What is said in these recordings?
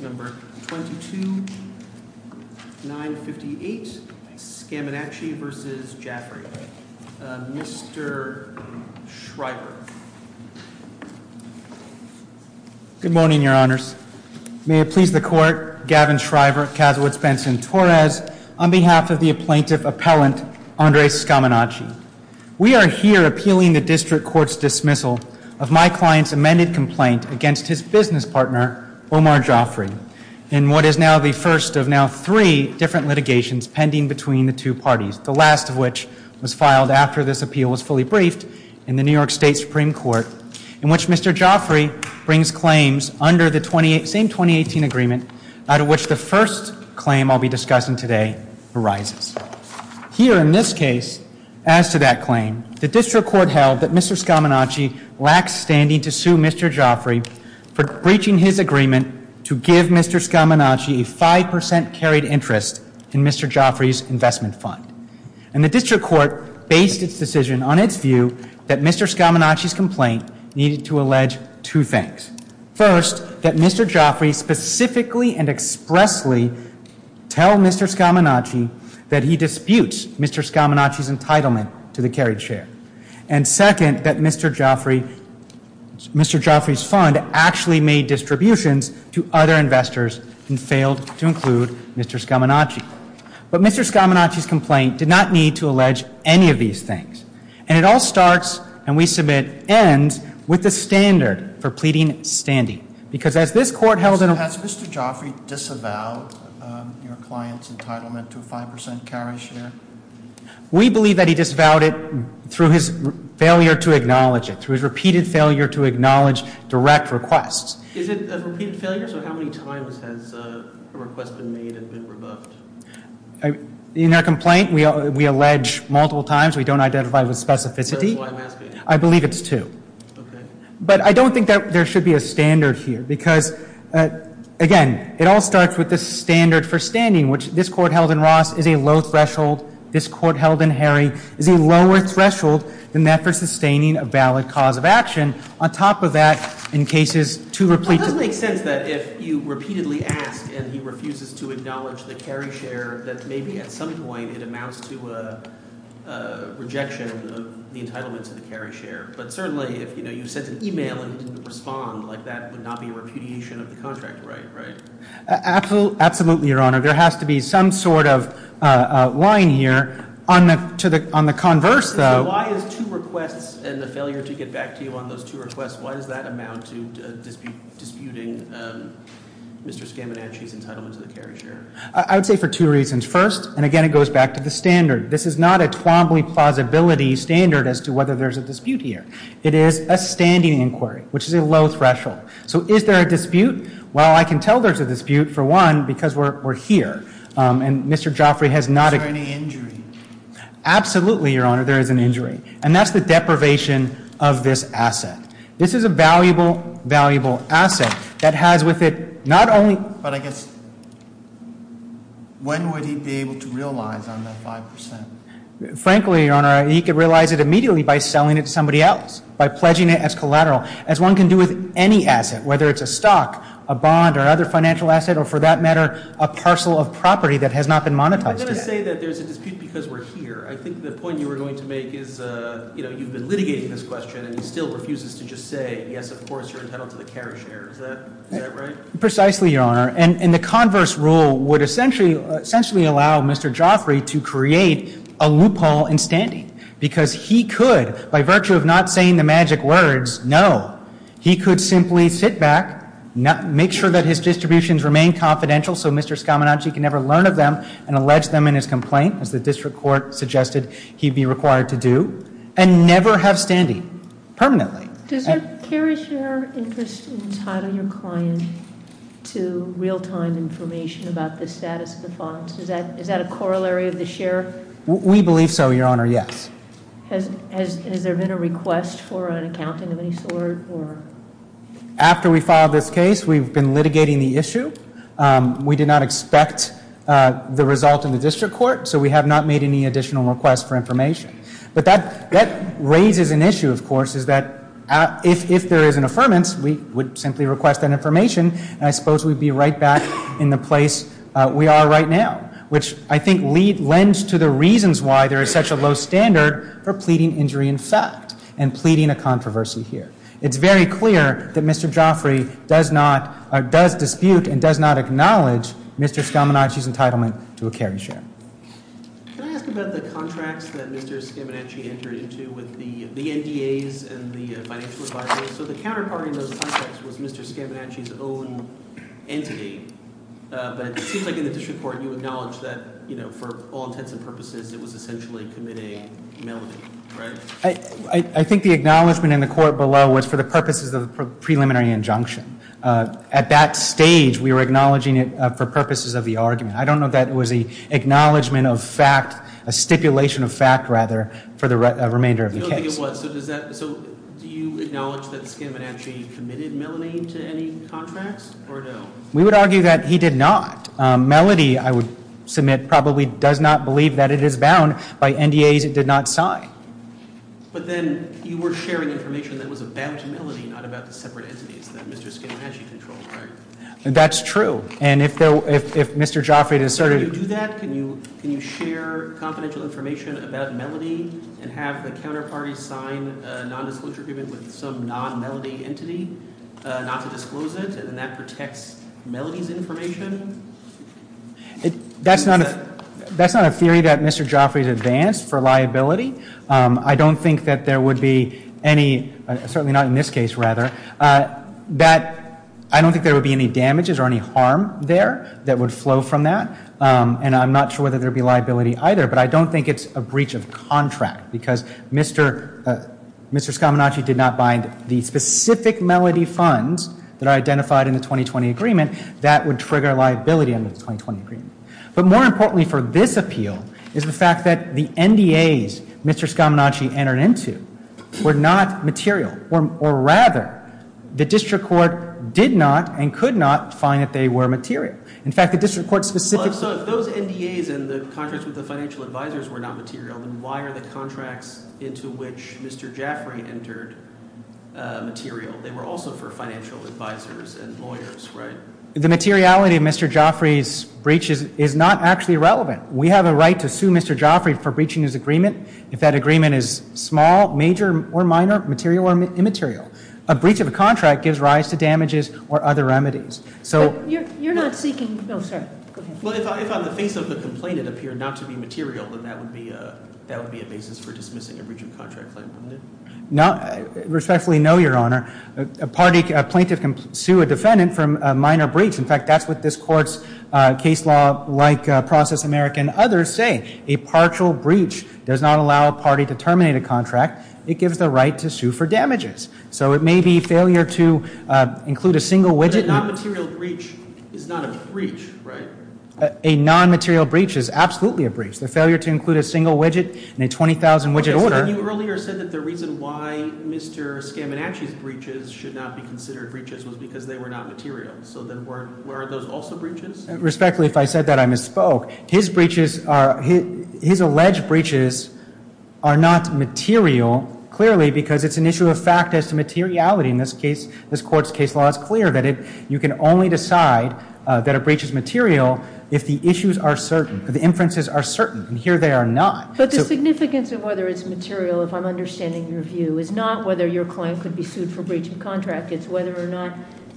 Good morning, your honors. May it please the court, Gavin Shriver, Kazowitz-Benson-Torres, on behalf of the plaintiff appellant, Andre Scaminaci. We are here appealing the district court's dismissal of my client's amended complaint against his business partner, Omar Jaffrey, in what is now the first of now three different litigations pending between the two parties, the last of which was filed after this appeal was fully briefed in the New York State Supreme Court, in which Mr. Jaffrey brings claims under the same 2018 agreement out of which the first claim I'll be discussing today arises. Here in this case, as to that Mr. Scaminaci lacks standing to sue Mr. Jaffrey for breaching his agreement to give Mr. Scaminaci a 5% carried interest in Mr. Jaffrey's investment fund. And the district court based its decision on its view that Mr. Scaminaci's complaint needed to allege two things. First, that Mr. Jaffrey specifically and expressly tell Mr. Scaminaci that he disputes Mr. Scaminaci's claim that Mr. Jaffrey's fund actually made distributions to other investors and failed to include Mr. Scaminaci. But Mr. Scaminaci's complaint did not need to allege any of these things. And it all starts, and we submit ends, with the standard for pleading standing. Because as this court held in a- Has Mr. Jaffrey disavowed your client's entitlement to a 5% carry share? We believe that he disavowed it through his failure to acknowledge it, through his repeated failure to acknowledge direct requests. Is it a repeated failure? So how many times has a request been made and been revoked? In our complaint, we allege multiple times. We don't identify with specificity. So that's why I'm asking. I believe it's two. Okay. But I don't think there should be a standard here. Because, again, it all starts with the standard for standing, which this court held in Ross is a low threshold. This court held in Harry is a lower threshold than that for sustaining a valid cause of action. On top of that, in cases to- It doesn't make sense that if you repeatedly ask and he refuses to acknowledge the carry share, that maybe at some point it amounts to a rejection of the entitlement to the carry share. But certainly, if you sent an email and he didn't respond, that would not be a repudiation of the contract, right? Absolutely, Your Honor. There has to be some sort of line here. On the converse, though- Why is two requests and the failure to get back to you on those two requests, why does that amount to disputing Mr. Scaminacci's entitlement to the carry share? I'd say for two reasons. First, and again, it goes back to the standard. This is not a Twombly plausibility standard as to whether there's a dispute here. It is a standing inquiry, which is a low threshold. So is there a dispute? Well, I can tell there's a dispute, for one, because we're here. And Mr. Joffrey has not- Is there any injury? Absolutely, Your Honor, there is an injury. And that's the deprivation of this asset. This is a valuable, valuable asset that has with it not only- But I guess, when would he be able to realize on that 5%? Frankly, Your Honor, he could realize it immediately by selling it to somebody else, by pledging it as collateral, as one can do with any asset, whether it's a stock, a bond, or other financial asset, or for that matter, a parcel of property that has not been monetized. I'm going to say that there's a dispute because we're here. I think the point you were going to make is you've been litigating this question and he still refuses to just say, yes, of course, you're entitled to the carry share. Is that right? Precisely, Your Honor. And the converse rule would essentially allow Mr. Joffrey to create a loophole in standing because he could, by virtue of not saying the magic words, no, he could simply sit back, make sure that his distributions remain confidential so Mr. Scaminacci can never learn of them and allege them in his complaint, as the district court suggested he'd be required to do, and never have standing permanently. Does your carry share interest entitle your client to real-time information about the status of the funds? Is that a corollary of the share? We believe so, Your Honor, yes. Has there been a request for an accounting of any sort? After we filed this case, we've been litigating the issue. We did not expect the result in the district court, so we have not made any additional requests for information. But that raises an issue, of course, is that if there is an affirmance, we would simply request that information, and I suppose we'd be right back in the place we are right now, which I think lends to the reasons why there is such a low standard for pleading injury in fact and pleading a controversy here. It's very clear that Mr. Joffrey does dispute and does not acknowledge Mr. Scaminacci's entitlement to a carry share. Can I ask about the contracts that Mr. Scaminacci entered into with the NDAs and the financial advisors? So the counterparty in those contracts was Mr. Scaminacci's own entity, but it seems like in the district court you acknowledged that, you know, for all intents and purposes, it was essentially committing melanin, right? I think the acknowledgment in the court below was for the purposes of a preliminary injunction. At that stage, we were acknowledging it for purposes of the argument. I don't know that it was an acknowledgment of fact, a stipulation of fact, rather, for the remainder of the case. So do you acknowledge that Scaminacci committed melanin to any contracts or no? We would argue that he did not. Melody, I would submit, probably does not believe that it is bound by NDAs it did not sign. But then you were sharing information that was about Melody, not about the separate entities that Mr. Scaminacci controlled, right? That's true. And if Mr. Joffrey had asserted Can you do that? Can you share confidential information about Melody and have the counterparty sign a nondisclosure agreement with some non-Melody entity not to disclose it? And that protects Melody's information? That's not a theory that Mr. Joffrey has advanced for liability. I don't think that there would be any, certainly not in this case, rather, that I don't think there would be any damages or any harm there that would flow from that. And I'm not sure whether there would be liability either, but I don't think it's a breach of contract because Mr. Scaminacci did not bind the specific Melody funds that are identified in the 2020 agreement that would trigger liability under the 2020 agreement. But more importantly for this appeal is the fact that the NDAs Mr. Scaminacci entered into were not material. Or rather, the district court did not and could not find that they were material. In fact, the district court's specific So if those NDAs and the contracts with the financial advisors were not material, then why are the contracts into which Mr. Joffrey entered material? They were also for financial advisors and lawyers, right? The materiality of Mr. Joffrey's breach is not actually relevant. We have a right to sue Mr. Joffrey for breaching his agreement. If that agreement is small, major or minor, material or immaterial, a breach of a contract gives rise to damages or other remedies. You're not seeking No, sir. Well, if on the face of the complaint it appeared not to be material, then that would be a basis for dismissing a breach of contract claim, wouldn't it? Respectfully, no, Your Honor. A plaintiff can sue a defendant for a minor breach. In fact, that's what this court's case law, like Process America and others, say. A partial breach does not allow a party to terminate a contract. It gives the right to sue for damages. So it may be failure to include a single widget. A non-material breach is not a breach, right? A non-material breach is absolutely a breach. The failure to include a single widget in a 20,000-widget order You earlier said that the reason why Mr. Scaminacci's breaches should not be considered breaches was because they were not material. So then weren't those also breaches? Respectfully, if I said that, I misspoke. His alleged breaches are not material, clearly, because it's an issue of fact as to materiality. In this court's case law, it's clear that you can only decide that a breach is material if the issues are certain, if the inferences are certain, and here they are not. But the significance of whether it's material, if I'm understanding your view, is not whether your client could be sued for breach of contract. It's whether or not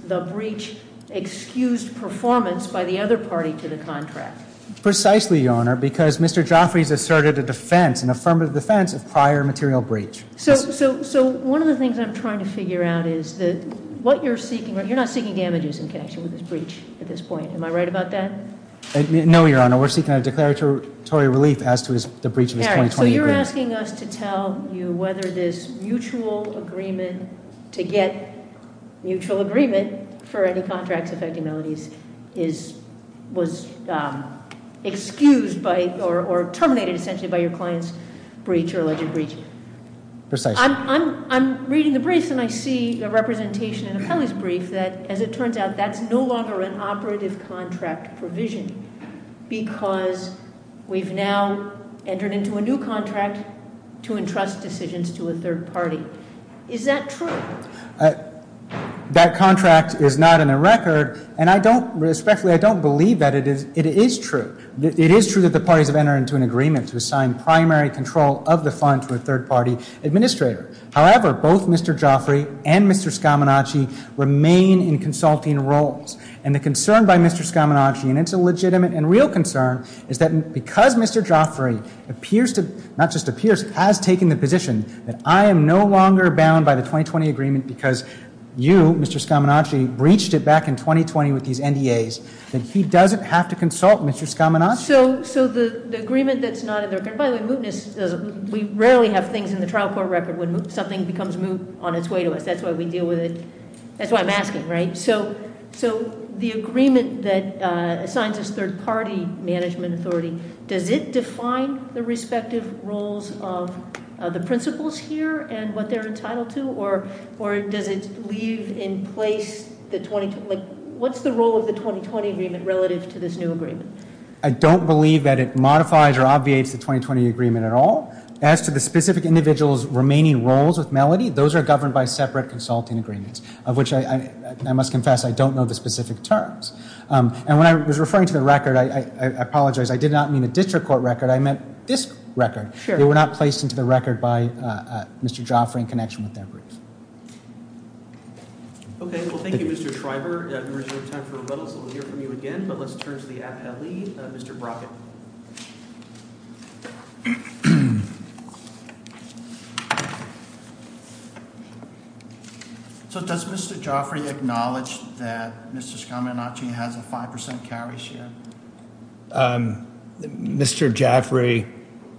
the breach excused performance by the other party to the contract. Precisely, Your Honor, because Mr. Joffrey has asserted a defense, an affirmative defense, of prior material breach. So one of the things I'm trying to figure out is that what you're seeking, you're not seeking damages in connection with this breach at this point. Am I right about that? No, Your Honor, we're seeking a declaratory relief as to the breach of his 2020 agreement. So you're asking us to tell you whether this mutual agreement to get mutual agreement for any contracts affecting Melody's was excused or terminated, essentially, by your client's breach or alleged breach? Precisely. I'm reading the briefs and I see a representation in a felon's brief that, as it turns out, that's no longer an operative contract provision because we've now entered into a new contract to entrust decisions to a third party. Is that true? That contract is not in the record, and I don't, respectfully, I don't believe that it is true. It is true that the parties have entered into an agreement to assign primary control of the fund to a third party administrator. However, both Mr. Joffrey and Mr. Scaminacci remain in consulting roles, and the concern by Mr. Scaminacci, and it's a legitimate and real concern, is that because Mr. Joffrey appears to, not just appears, has taken the position that I am no longer bound by the 2020 agreement because you, Mr. Scaminacci, breached it back in 2020 with these NDAs, that he doesn't have to consult Mr. Scaminacci? So the agreement that's not in the record, by the way, mootness, we rarely have things in the trial court record when something becomes moot on its way to us. That's why we deal with it. That's why I'm asking, right? So the agreement that assigns us third party management authority, does it define the respective roles of the principals here and what they're entitled to, or does it leave in place the 20, like what's the role of the 2020 agreement relative to this new agreement? I don't believe that it modifies or obviates the 2020 agreement at all. As to the specific individual's remaining roles with Melody, those are governed by separate consulting agreements, of which I must confess I don't know the specific terms. And when I was referring to the record, I apologize. I did not mean a district court record. I meant this record. They were not placed into the record by Mr. Joffrey in connection with their briefs. OK, well, thank you, Mr. Shriver. We have a little time for rebuttal, so we'll hear from you again. But let's turn to the appellee, Mr. Brockett. So does Mr. Joffrey acknowledge that Mr. Scaminacci has a 5% carry share? Mr. Joffrey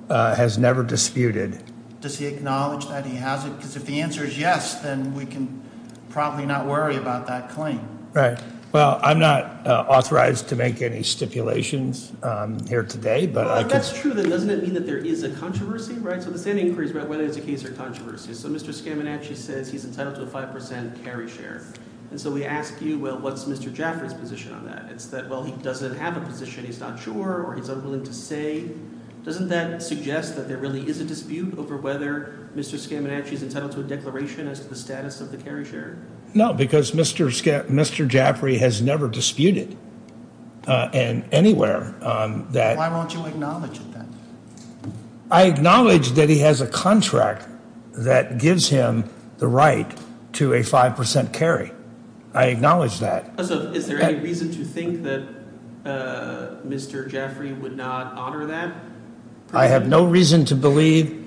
has never disputed. Does he acknowledge that he has it? Because if the answer is yes, then we can probably not worry about that claim. Right. Well, I'm not authorized to make any stipulations here today. But that's true. Doesn't it mean that there is a controversy? Right. So the same inquiries about whether it's a case or controversy. So Mr. Scaminacci says he's entitled to a 5% carry share. And so we ask you, well, what's Mr. Joffrey's position on that? It's that, well, he doesn't have a position, he's not sure, or he's unwilling to say. Doesn't that suggest that there really is a dispute over whether Mr. Scaminacci is entitled to a declaration as to the status of the carry share? No, because Mr. Joffrey has never disputed anywhere. Why won't you acknowledge that? I acknowledge that he has a contract that gives him the right to a 5% carry. I acknowledge that. So is there any reason to think that Mr. Joffrey would not honor that? I have no reason to believe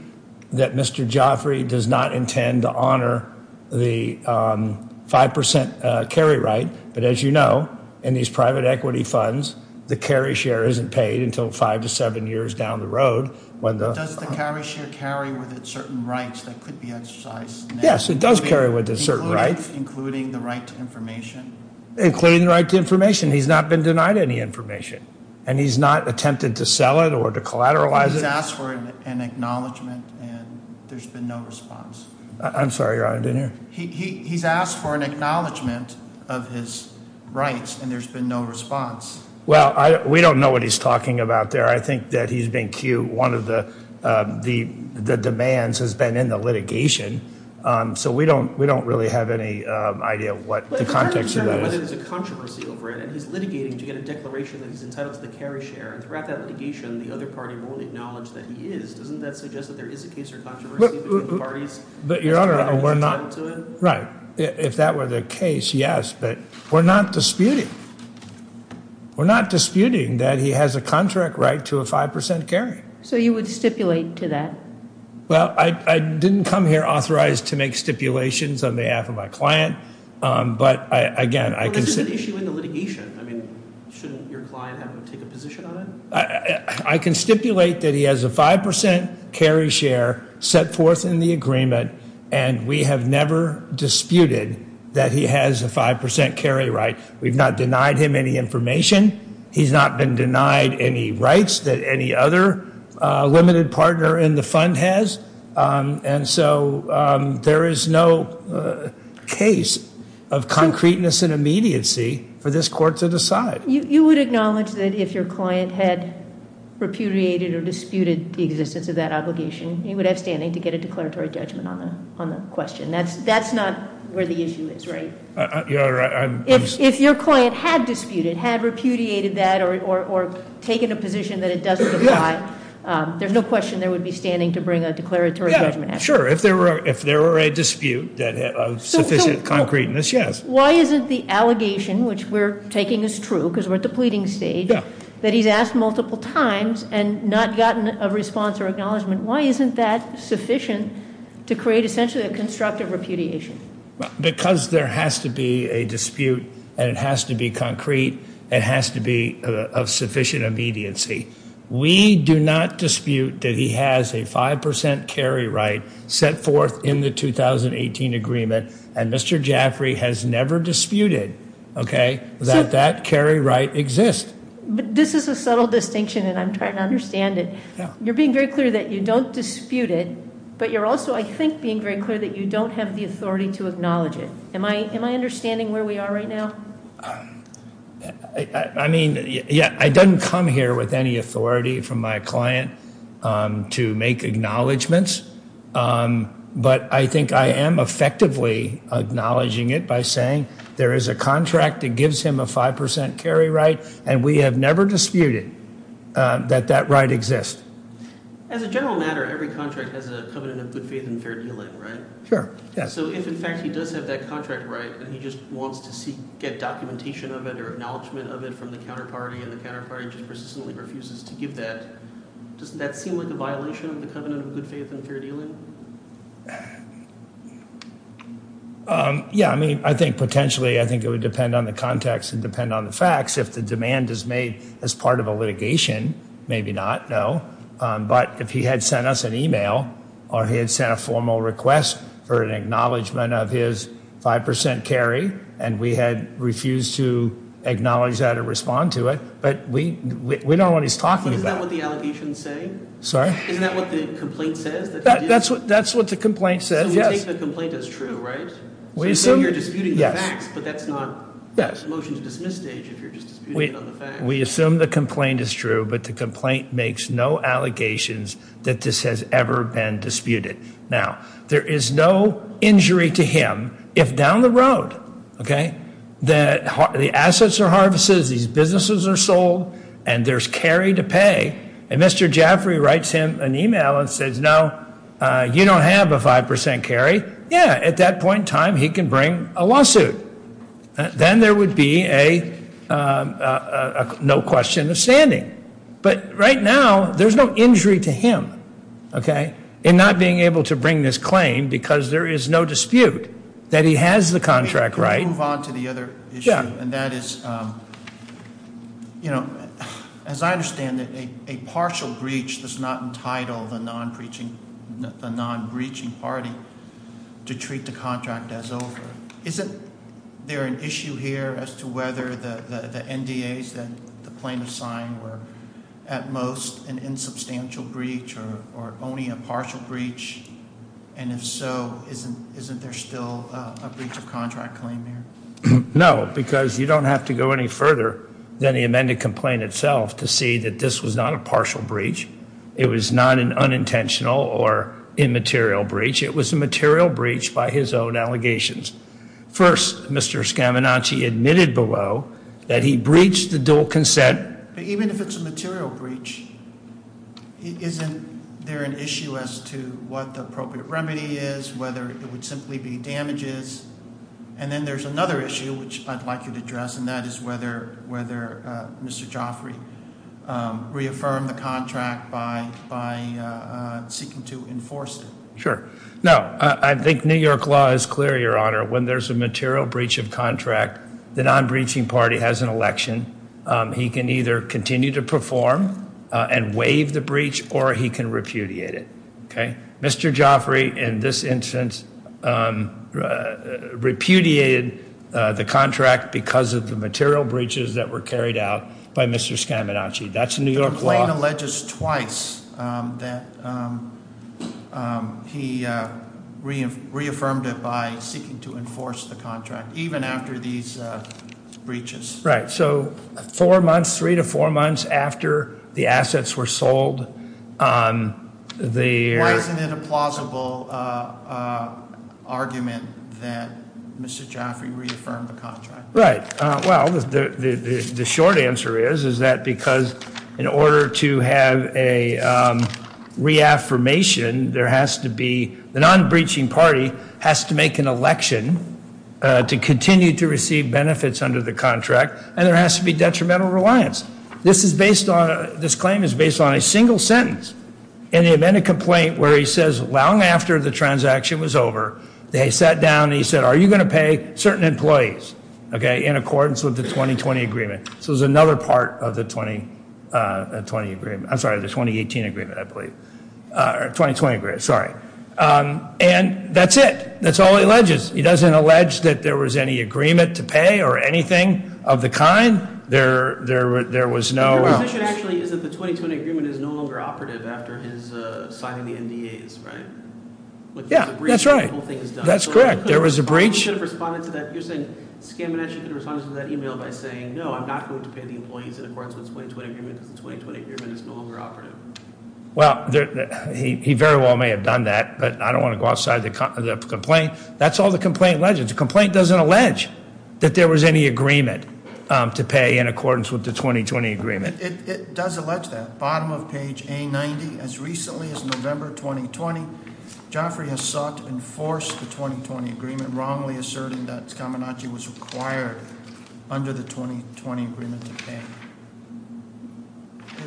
that Mr. Joffrey does not intend to honor the 5% carry right. But as you know, in these private equity funds, the carry share isn't paid until five to seven years down the road. Does the carry share carry with it certain rights that could be exercised? Yes, it does carry with it certain rights. Including the right to information? Including the right to information. He's not been denied any information. And he's not attempted to sell it or to collateralize it? He's asked for an acknowledgment and there's been no response. I'm sorry, Your Honor, I didn't hear. He's asked for an acknowledgment of his rights and there's been no response. Well, we don't know what he's talking about there. I think that he's been cued. One of the demands has been in the litigation. So we don't really have any idea of what the context of that is. But it's hard to determine whether there's a controversy over it. And he's litigating to get a declaration that he's entitled to the carry share. And throughout that litigation, the other party more than acknowledged that he is. Doesn't that suggest that there is a case or controversy between the parties? But, Your Honor, we're not. Right. If that were the case, yes. But we're not disputing. We're not disputing that he has a contract right to a 5% carry. So you would stipulate to that? Well, I didn't come here authorized to make stipulations on behalf of my client. But, again, I can stipulate that he has a 5% carry share set forth in the agreement. And we have never disputed that he has a 5% carry right. We've not denied him any information. He's not been denied any rights that any other limited partner in the fund has. And so there is no case of concreteness and immediacy for this court to decide. You would acknowledge that if your client had repudiated or disputed the existence of that obligation, you would have standing to get a declaratory judgment on the question. That's not where the issue is, right? If your client had disputed, had repudiated that, or taken a position that it doesn't apply, there's no question there would be standing to bring a declaratory judgment. Sure, if there were a dispute of sufficient concreteness, yes. Why isn't the allegation, which we're taking as true because we're at the pleading stage, that he's asked multiple times and not gotten a response or acknowledgement, why isn't that sufficient to create essentially a constructive repudiation? Because there has to be a dispute, and it has to be concrete. It has to be of sufficient immediacy. We do not dispute that he has a 5% carry right set forth in the 2018 agreement, and Mr. Jaffrey has never disputed that that carry right exists. This is a subtle distinction, and I'm trying to understand it. You're being very clear that you don't dispute it, but you're also, I think, being very clear that you don't have the authority to acknowledge it. Am I understanding where we are right now? I mean, yeah, I didn't come here with any authority from my client to make acknowledgements, but I think I am effectively acknowledging it by saying there is a contract that gives him a 5% carry right, and we have never disputed that that right exists. As a general matter, every contract has a covenant of good faith and fair dealing, right? Sure, yeah. So if, in fact, he does have that contract right, and he just wants to get documentation of it or acknowledgement of it from the counterparty, and the counterparty just persistently refuses to give that, doesn't that seem like a violation of the covenant of good faith and fair dealing? Yeah, I mean, I think potentially, I think it would depend on the context and depend on the facts. If the demand is made as part of a litigation, maybe not, no. But if he had sent us an email or he had sent a formal request for an acknowledgement of his 5% carry, and we had refused to acknowledge that or respond to it, but we don't know what he's talking about. Isn't that what the allegations say? Sorry? Isn't that what the complaint says? That's what the complaint says, yes. So you take the complaint as true, right? We assume, yes. But that's not a motion to dismiss stage if you're just disputing it on the facts. We assume the complaint is true, but the complaint makes no allegations that this has ever been disputed. Now, there is no injury to him if down the road, okay, the assets are harvested, these businesses are sold, and there's carry to pay, and Mr. Jaffray writes him an email and says, no, you don't have a 5% carry, yeah, at that point in time, he can bring a lawsuit. Then there would be a no question of standing. But right now, there's no injury to him, okay, in not being able to bring this claim because there is no dispute that he has the contract right. I move on to the other issue, and that is, as I understand it, a partial breach does not entitle the non-breaching party to treat the contract as over. Isn't there an issue here as to whether the NDAs that the plaintiffs signed were at most an insubstantial breach or only a partial breach? And if so, isn't there still a breach of contract claim here? No, because you don't have to go any further than the amended complaint itself to see that this was not a partial breach. It was not an unintentional or immaterial breach. It was a material breach by his own allegations. First, Mr. Scaminacci admitted below that he breached the dual consent. But even if it's a material breach, isn't there an issue as to what the appropriate remedy is, whether it would simply be damages, and then there's another issue which I'd like you to address, and that is whether Mr. Joffrey reaffirmed the contract by seeking to enforce it. Sure. No, I think New York law is clear, Your Honor. When there's a material breach of contract, the non-breaching party has an election. He can either continue to perform and waive the breach, or he can repudiate it. Okay? Mr. Joffrey, in this instance, repudiated the contract because of the material breaches that were carried out by Mr. Scaminacci. That's New York law. The complaint alleges twice that he reaffirmed it by seeking to enforce the contract, even after these breaches. Right. So four months, three to four months after the assets were sold, the- Why isn't it a plausible argument that Mr. Joffrey reaffirmed the contract? Right. Well, the short answer is, is that because in order to have a reaffirmation, the non-breaching party has to make an election to continue to receive benefits under the contract, and there has to be detrimental reliance. This claim is based on a single sentence. In the event of complaint where he says, long after the transaction was over, they sat down and he said, are you going to pay certain employees? Okay, in accordance with the 2020 agreement. So there's another part of the 2020 agreement. I'm sorry, the 2018 agreement, I believe. Or 2020 agreement, sorry. And that's it. That's all he alleges. He doesn't allege that there was any agreement to pay or anything of the kind. There was no- The position actually is that the 2020 agreement is no longer operative after his signing the NDAs, right? Yeah, that's right. The whole thing is done. That's correct. There was a breach. He should have responded to that. You're saying Skamination should have responded to that email by saying, no, I'm not going to pay the employees in accordance with the 2020 agreement because the 2020 agreement is no longer operative. Well, he very well may have done that, but I don't want to go outside the complaint. That's all the complaint alleges. The complaint doesn't allege that there was any agreement to pay in accordance with the 2020 agreement. It does allege that. Bottom of page A90, as recently as November 2020, Joffrey has sought to enforce the 2020 agreement, wrongly asserting that Skamination was required under the 2020 agreement to pay.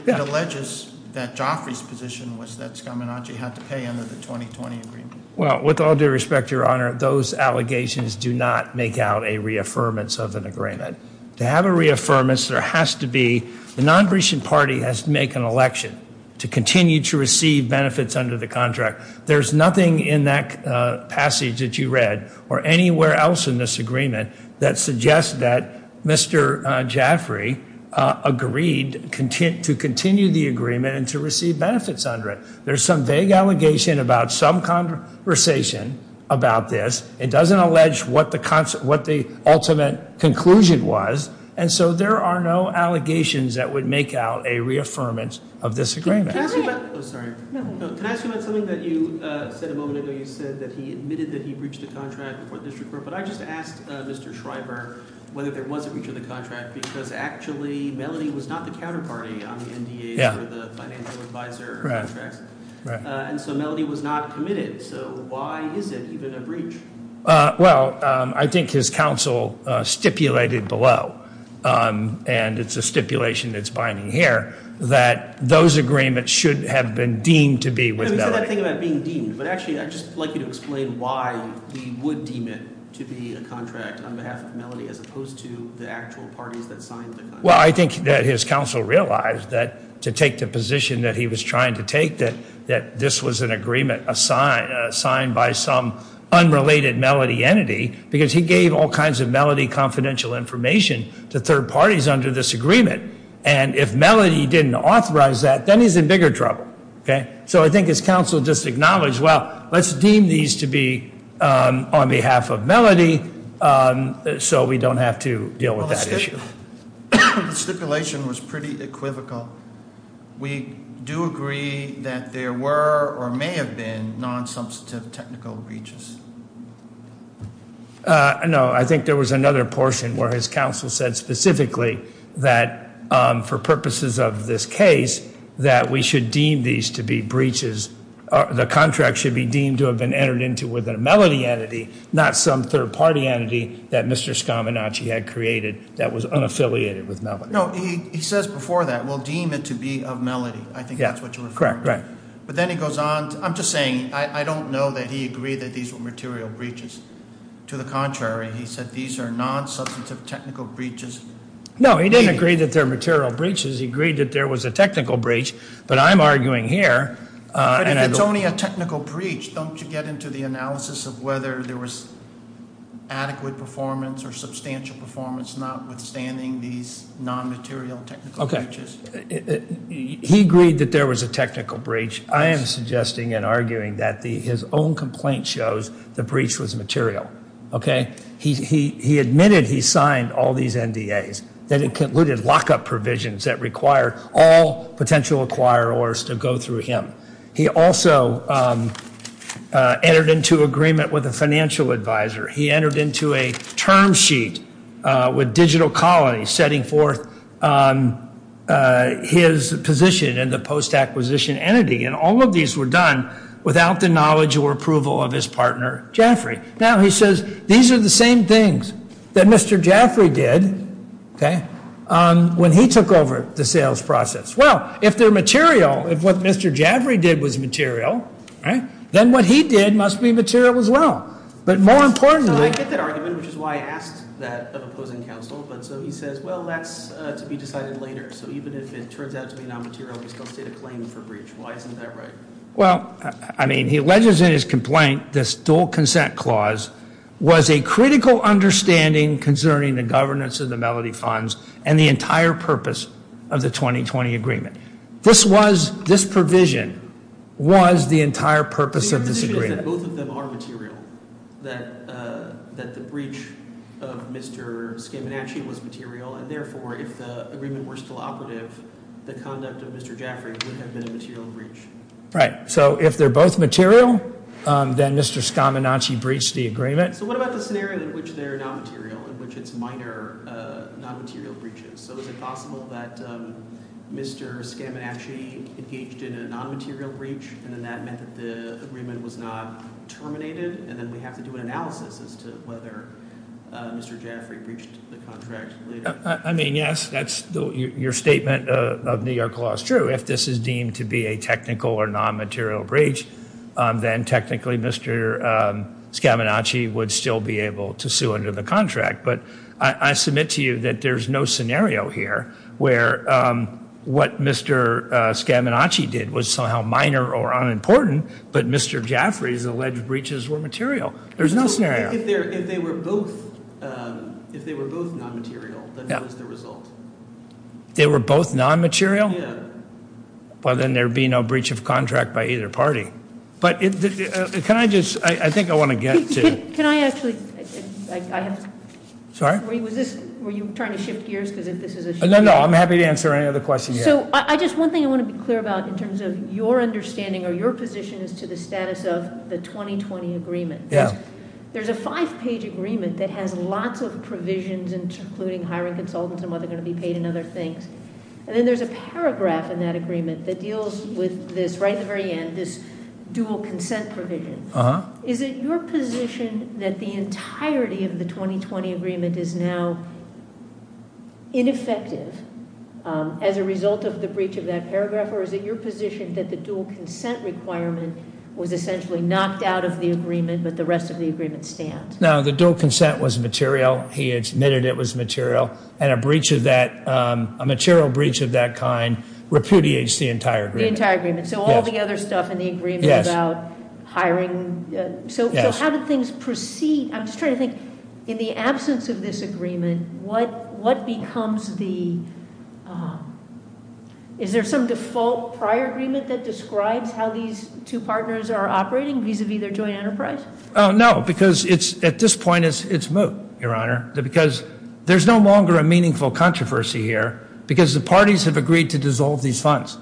It alleges that Joffrey's position was that Skamination had to pay under the 2020 agreement. Well, with all due respect, Your Honor, those allegations do not make out a reaffirmance of an agreement. To have a reaffirmance, there has to be- The appreciation party has to make an election to continue to receive benefits under the contract. There's nothing in that passage that you read or anywhere else in this agreement that suggests that Mr. Joffrey agreed to continue the agreement and to receive benefits under it. There's some vague allegation about some conversation about this. It doesn't allege what the ultimate conclusion was. And so there are no allegations that would make out a reaffirmance of this agreement. Can I ask you about something that you said a moment ago? You said that he admitted that he breached a contract before the district court. But I just asked Mr. Schreiber whether there was a breach of the contract because actually Melody was not the counterparty on the NDA or the financial advisor contracts. And so Melody was not committed. So why is it even a breach? Well, I think his counsel stipulated below, and it's a stipulation that's binding here, that those agreements should have been deemed to be with Melody. You said that thing about being deemed. But actually, I'd just like you to explain why we would deem it to be a contract on behalf of Melody as opposed to the actual parties that signed the contract. Well, I think that his counsel realized that to take the position that he was trying to take, that this was an agreement assigned by some unrelated Melody entity, because he gave all kinds of Melody confidential information to third parties under this agreement. And if Melody didn't authorize that, then he's in bigger trouble. So I think his counsel just acknowledged, well, let's deem these to be on behalf of Melody so we don't have to deal with that issue. The stipulation was pretty equivocal. We do agree that there were or may have been nonsubstantive technical breaches. No, I think there was another portion where his counsel said specifically that for purposes of this case, that we should deem these to be breaches. The contract should be deemed to have been entered into with a Melody entity, not some third party entity that Mr. Scaminacci had created that was unaffiliated with Melody. No, he says before that, we'll deem it to be of Melody. I think that's what you're referring to. Correct, correct. But then he goes on. I'm just saying, I don't know that he agreed that these were material breaches. To the contrary, he said these are nonsubstantive technical breaches. No, he didn't agree that they're material breaches. He agreed that there was a technical breach. But I'm arguing here. But if it's only a technical breach, don't you get into the analysis of whether there was adequate performance or substantial performance notwithstanding these nonmaterial technical breaches? He agreed that there was a technical breach. I am suggesting and arguing that his own complaint shows the breach was material. He admitted he signed all these NDAs, that it included lockup provisions that required all potential acquirers to go through him. He also entered into agreement with a financial advisor. He entered into a term sheet with Digital Colony, setting forth his position in the post-acquisition entity. And all of these were done without the knowledge or approval of his partner, Jeffrey. Now, he says these are the same things that Mr. Jaffrey did when he took over the sales process. Well, if they're material, if what Mr. Jaffrey did was material, then what he did must be material as well. But more importantly – So I get that argument, which is why I asked that of opposing counsel. But so he says, well, that's to be decided later. So even if it turns out to be nonmaterial, we still state a claim for breach. Why isn't that right? Well, I mean, he alleges in his complaint this dual consent clause was a critical understanding concerning the governance of the Melody Funds and the entire purpose of the 2020 agreement. This provision was the entire purpose of this agreement. He says that both of them are material, that the breach of Mr. Scaminacci was material. And therefore, if the agreement were still operative, the conduct of Mr. Jaffrey would have been a material breach. Right. So if they're both material, then Mr. Scaminacci breached the agreement. So what about the scenario in which they're nonmaterial, in which it's minor nonmaterial breaches? So is it possible that Mr. Scaminacci engaged in a nonmaterial breach and then that meant that the agreement was not terminated? And then we have to do an analysis as to whether Mr. Jaffrey breached the contract later. I mean, yes, that's your statement of New York law is true. If this is deemed to be a technical or nonmaterial breach, then technically Mr. Scaminacci would still be able to sue under the contract. But I submit to you that there's no scenario here where what Mr. Scaminacci did was somehow minor or unimportant. But Mr. Jaffrey's alleged breaches were material. There's no scenario. If they were both if they were both nonmaterial, that was the result. They were both nonmaterial. Well, then there'd be no breach of contract by either party. But can I just, I think I want to get to- Can I actually, I have- Sorry? Were you trying to shift gears because if this is a- No, no, I'm happy to answer any other questions you have. So I just, one thing I want to be clear about in terms of your understanding or your position as to the status of the 2020 agreement. Yeah. There's a five page agreement that has lots of provisions including hiring consultants and what they're going to be paid and other things. And then there's a paragraph in that agreement that deals with this right at the very end, this dual consent provision. Is it your position that the entirety of the 2020 agreement is now ineffective as a result of the breach of that paragraph? Or is it your position that the dual consent requirement was essentially knocked out of the agreement, but the rest of the agreement stands? No, the dual consent was material. He admitted it was material. And a breach of that, a material breach of that kind repudiates the entire agreement. The entire agreement. So all the other stuff in the agreement about hiring. So how did things proceed? I'm just trying to think, in the absence of this agreement, what becomes the- Is there some default prior agreement that describes how these two partners are operating vis-a-vis their joint enterprise? No, because at this point it's moot, Your Honor, because there's no longer a meaningful controversy here because the parties have agreed to dissolve these funds.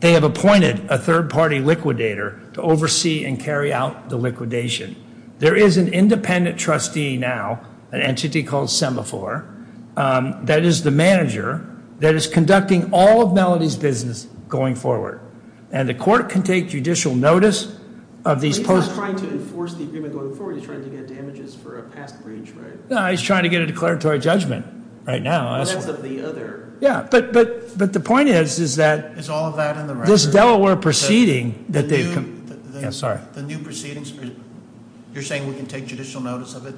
They have appointed a third party liquidator to oversee and carry out the liquidation. There is an independent trustee now, an entity called Semaphore, that is the manager, that is conducting all of Melody's business going forward. And the court can take judicial notice of these- He's not trying to enforce the agreement going forward. He's trying to get damages for a past breach, right? No, he's trying to get a declaratory judgment right now. Well, that's of the other- Yeah, but the point is, is that- Is all of that in the record? This Delaware proceeding that they've- The new- Yeah, sorry. The new proceedings, you're saying we can take judicial notice of it?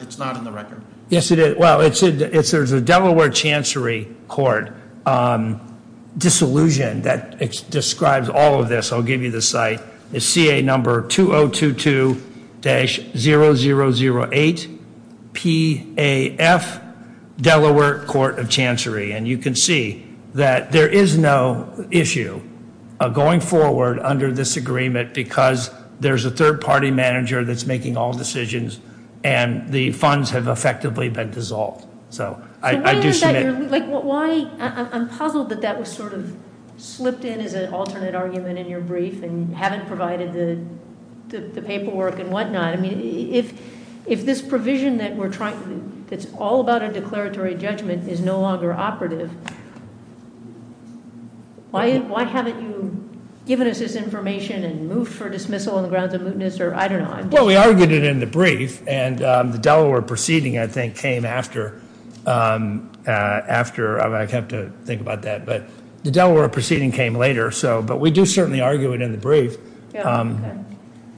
It's not in the record. Yes, it is. Well, there's a Delaware Chancery Court disillusion that describes all of this. I'll give you the site. It's CA number 2022-0008, PAF, Delaware Court of Chancery. And you can see that there is no issue going forward under this agreement because there's a third party manager that's making all decisions and the funds have effectively been dissolved. So, I do submit- I'm puzzled that that was sort of slipped in as an alternate argument in your brief and haven't provided the paperwork and whatnot. I mean, if this provision that's all about a declaratory judgment is no longer operative, why haven't you given us this information and moved for dismissal on the grounds of mootness or I don't know? Well, we argued it in the brief and the Delaware proceeding, I think, came after. I'd have to think about that, but the Delaware proceeding came later, but we do certainly argue it in the brief.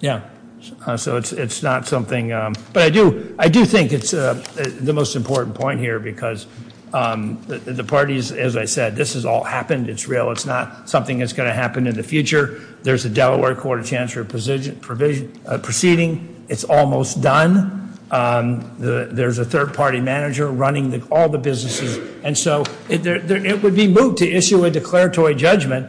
Yeah, so it's not something- But I do think it's the most important point here because the parties, as I said, this has all happened. It's real. It's not something that's going to happen in the future. There's a Delaware court of chancellor proceeding. It's almost done. There's a third party manager running all the businesses, and so it would be moot to issue a declaratory judgment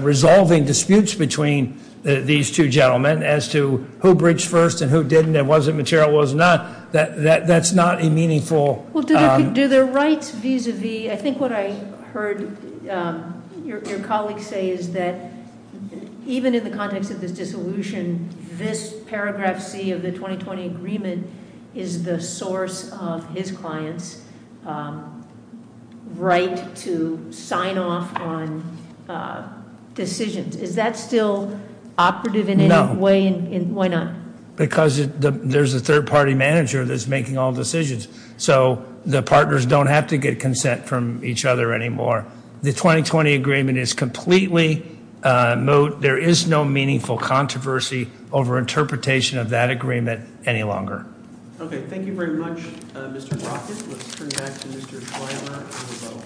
resolving disputes between these two gentlemen as to who bridged first and who didn't and was it material, was it not. That's not a meaningful- Do the rights vis-a-vis, I think what I heard your colleague say is that even in the context of this dissolution, this paragraph C of the 2020 agreement is the source of his client's right to sign off on decisions. Is that still operative in any way? No. Why not? Because there's a third party manager that's making all decisions. So the partners don't have to get consent from each other anymore. The 2020 agreement is completely moot. There is no meaningful controversy over interpretation of that agreement any longer. Okay, thank you very much, Mr. Brockett. Let's turn back to Mr. Schleier for the vote.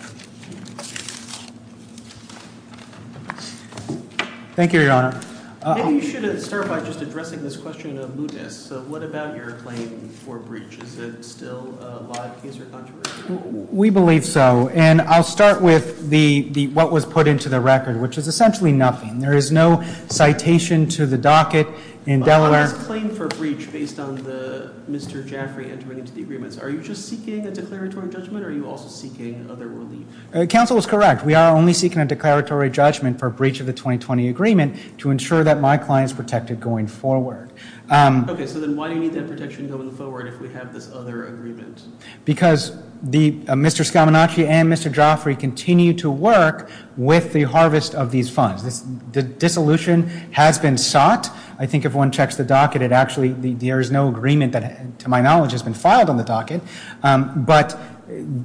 Thank you, Your Honor. Maybe you should start by just addressing this question of mootness. So what about your claim for breach? Is it still a live case or controversy? We believe so. And I'll start with what was put into the record, which is essentially nothing. There is no citation to the docket in Delaware. But on this claim for breach based on Mr. Jaffray entering into the agreements, are you just seeking a declaratory judgment or are you also seeking otherworldly- Counsel is correct. We are only seeking a declaratory judgment for breach of the 2020 agreement to ensure that my client is protected going forward. Okay, so then why do you need that protection going forward if we have this other agreement? Because Mr. Scaminacci and Mr. Jaffray continue to work with the harvest of these funds. The dissolution has been sought. I think if one checks the docket, it actually, there is no agreement that, to my knowledge, has been filed on the docket. But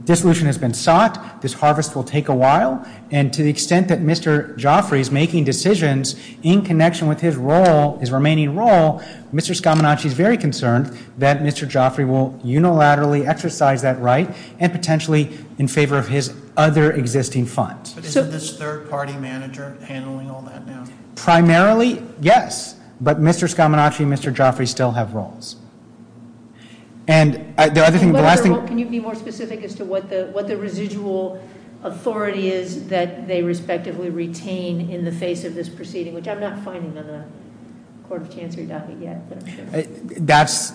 dissolution has been sought. This harvest will take a while. And to the extent that Mr. Jaffray is making decisions in connection with his role, his remaining role, Mr. Scaminacci is very concerned that Mr. Jaffray will unilaterally exercise that right and potentially in favor of his other existing funds. But isn't this third-party manager handling all that now? Primarily, yes. But Mr. Scaminacci and Mr. Jaffray still have roles. Can you be more specific as to what the residual authority is that they respectively retain in the face of this proceeding, which I'm not finding on the Court of Chancery docket yet? That's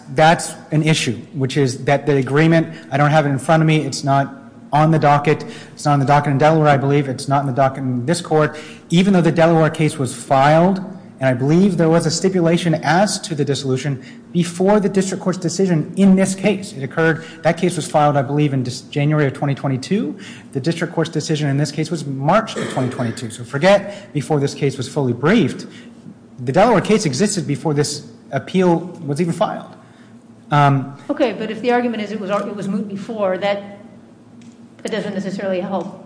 an issue, which is that the agreement, I don't have it in front of me. It's not on the docket. It's not on the docket in Delaware, I believe. It's not on the docket in this court. Even though the Delaware case was filed, and I believe there was a stipulation as to the dissolution before the district court's decision in this case. It occurred, that case was filed, I believe, in January of 2022. The district court's decision in this case was March of 2022. So forget before this case was fully briefed. The Delaware case existed before this appeal was even filed. Okay, but if the argument is it was moved before, that doesn't necessarily help.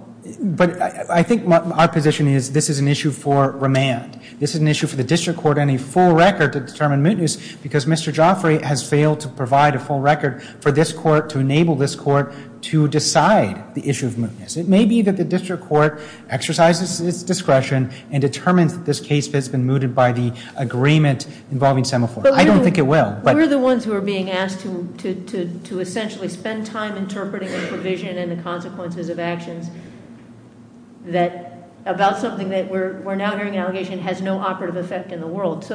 I think our position is this is an issue for remand. This is an issue for the district court and a full record to determine mootness, because Mr. Jaffray has failed to provide a full record for this court to enable this court to decide the issue of mootness. It may be that the district court exercises its discretion and determines that this case has been mooted by the agreement involving Semaphore. I don't think it will. We're the ones who are being asked to essentially spend time interpreting the provision and the consequences of actions about something that we're now hearing an allegation has no operative effect in the world. So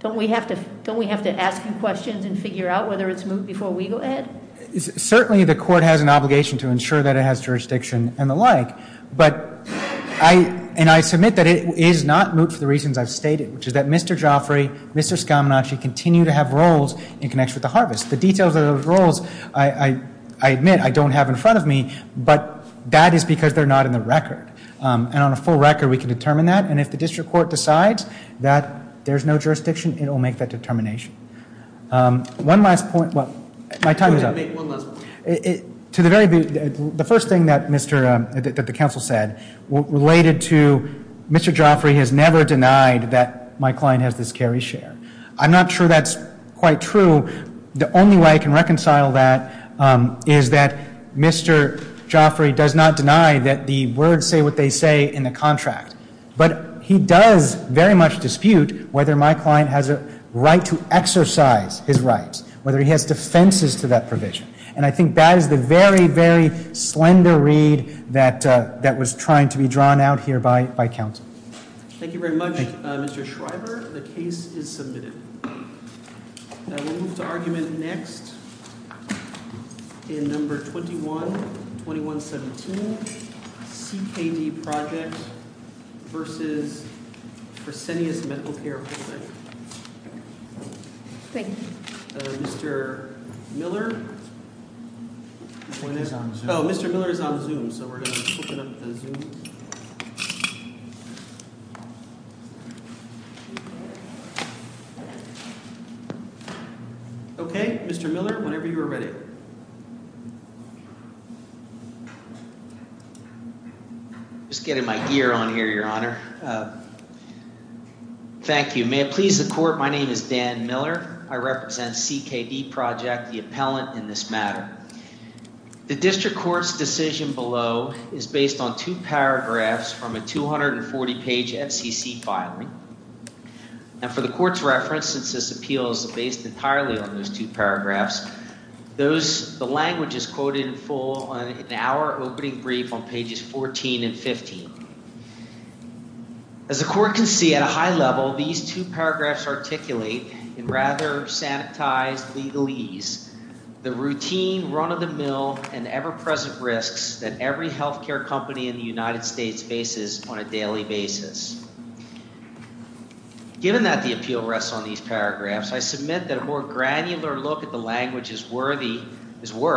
don't we have to ask you questions and figure out whether it's moot before we go ahead? Certainly, the court has an obligation to ensure that it has jurisdiction and the like. And I submit that it is not moot for the reasons I've stated, which is that Mr. Jaffray, Mr. Scaminacci continue to have roles in connection with the Harvest. The details of those roles, I admit, I don't have in front of me, but that is because they're not in the record. And on a full record, we can determine that. And if the district court decides that there's no jurisdiction, it will make that determination. One last point. My time is up. The first thing that the counsel said related to Mr. Jaffray has never denied that my client has this Cary share. I'm not sure that's quite true. The only way I can reconcile that is that Mr. Jaffray does not deny that the words say what they say in the contract. But he does very much dispute whether my client has a right to exercise his rights, whether he has defenses to that provision. And I think that is the very, very slender read that was trying to be drawn out here by counsel. Thank you very much, Mr. Schreiber. The case is submitted. We'll move to argument next in number 21, 21-17. CKD project versus Fresenius Medical Care. Thank you. Mr. Miller? He's on Zoom. Oh, Mr. Miller is on Zoom, so we're going to open up the Zoom. Okay, Mr. Miller, whenever you are ready. Just getting my gear on here, Your Honor. Thank you. May it please the court, my name is Dan Miller. I represent CKD Project, the appellant in this matter. The district court's decision below is based on two paragraphs from a 240-page FCC filing. And for the court's reference, since this appeal is based entirely on those two paragraphs, the language is quoted in full in our opening brief on pages 14 and 15. As the court can see at a high level, these two paragraphs articulate in rather sanitized legalese the routine run-of-the-mill and ever-present risks that every health care company in the United States faces on a daily basis. Given that the appeal rests on these paragraphs, I submit that a more granular look at the language is worthy, is worth,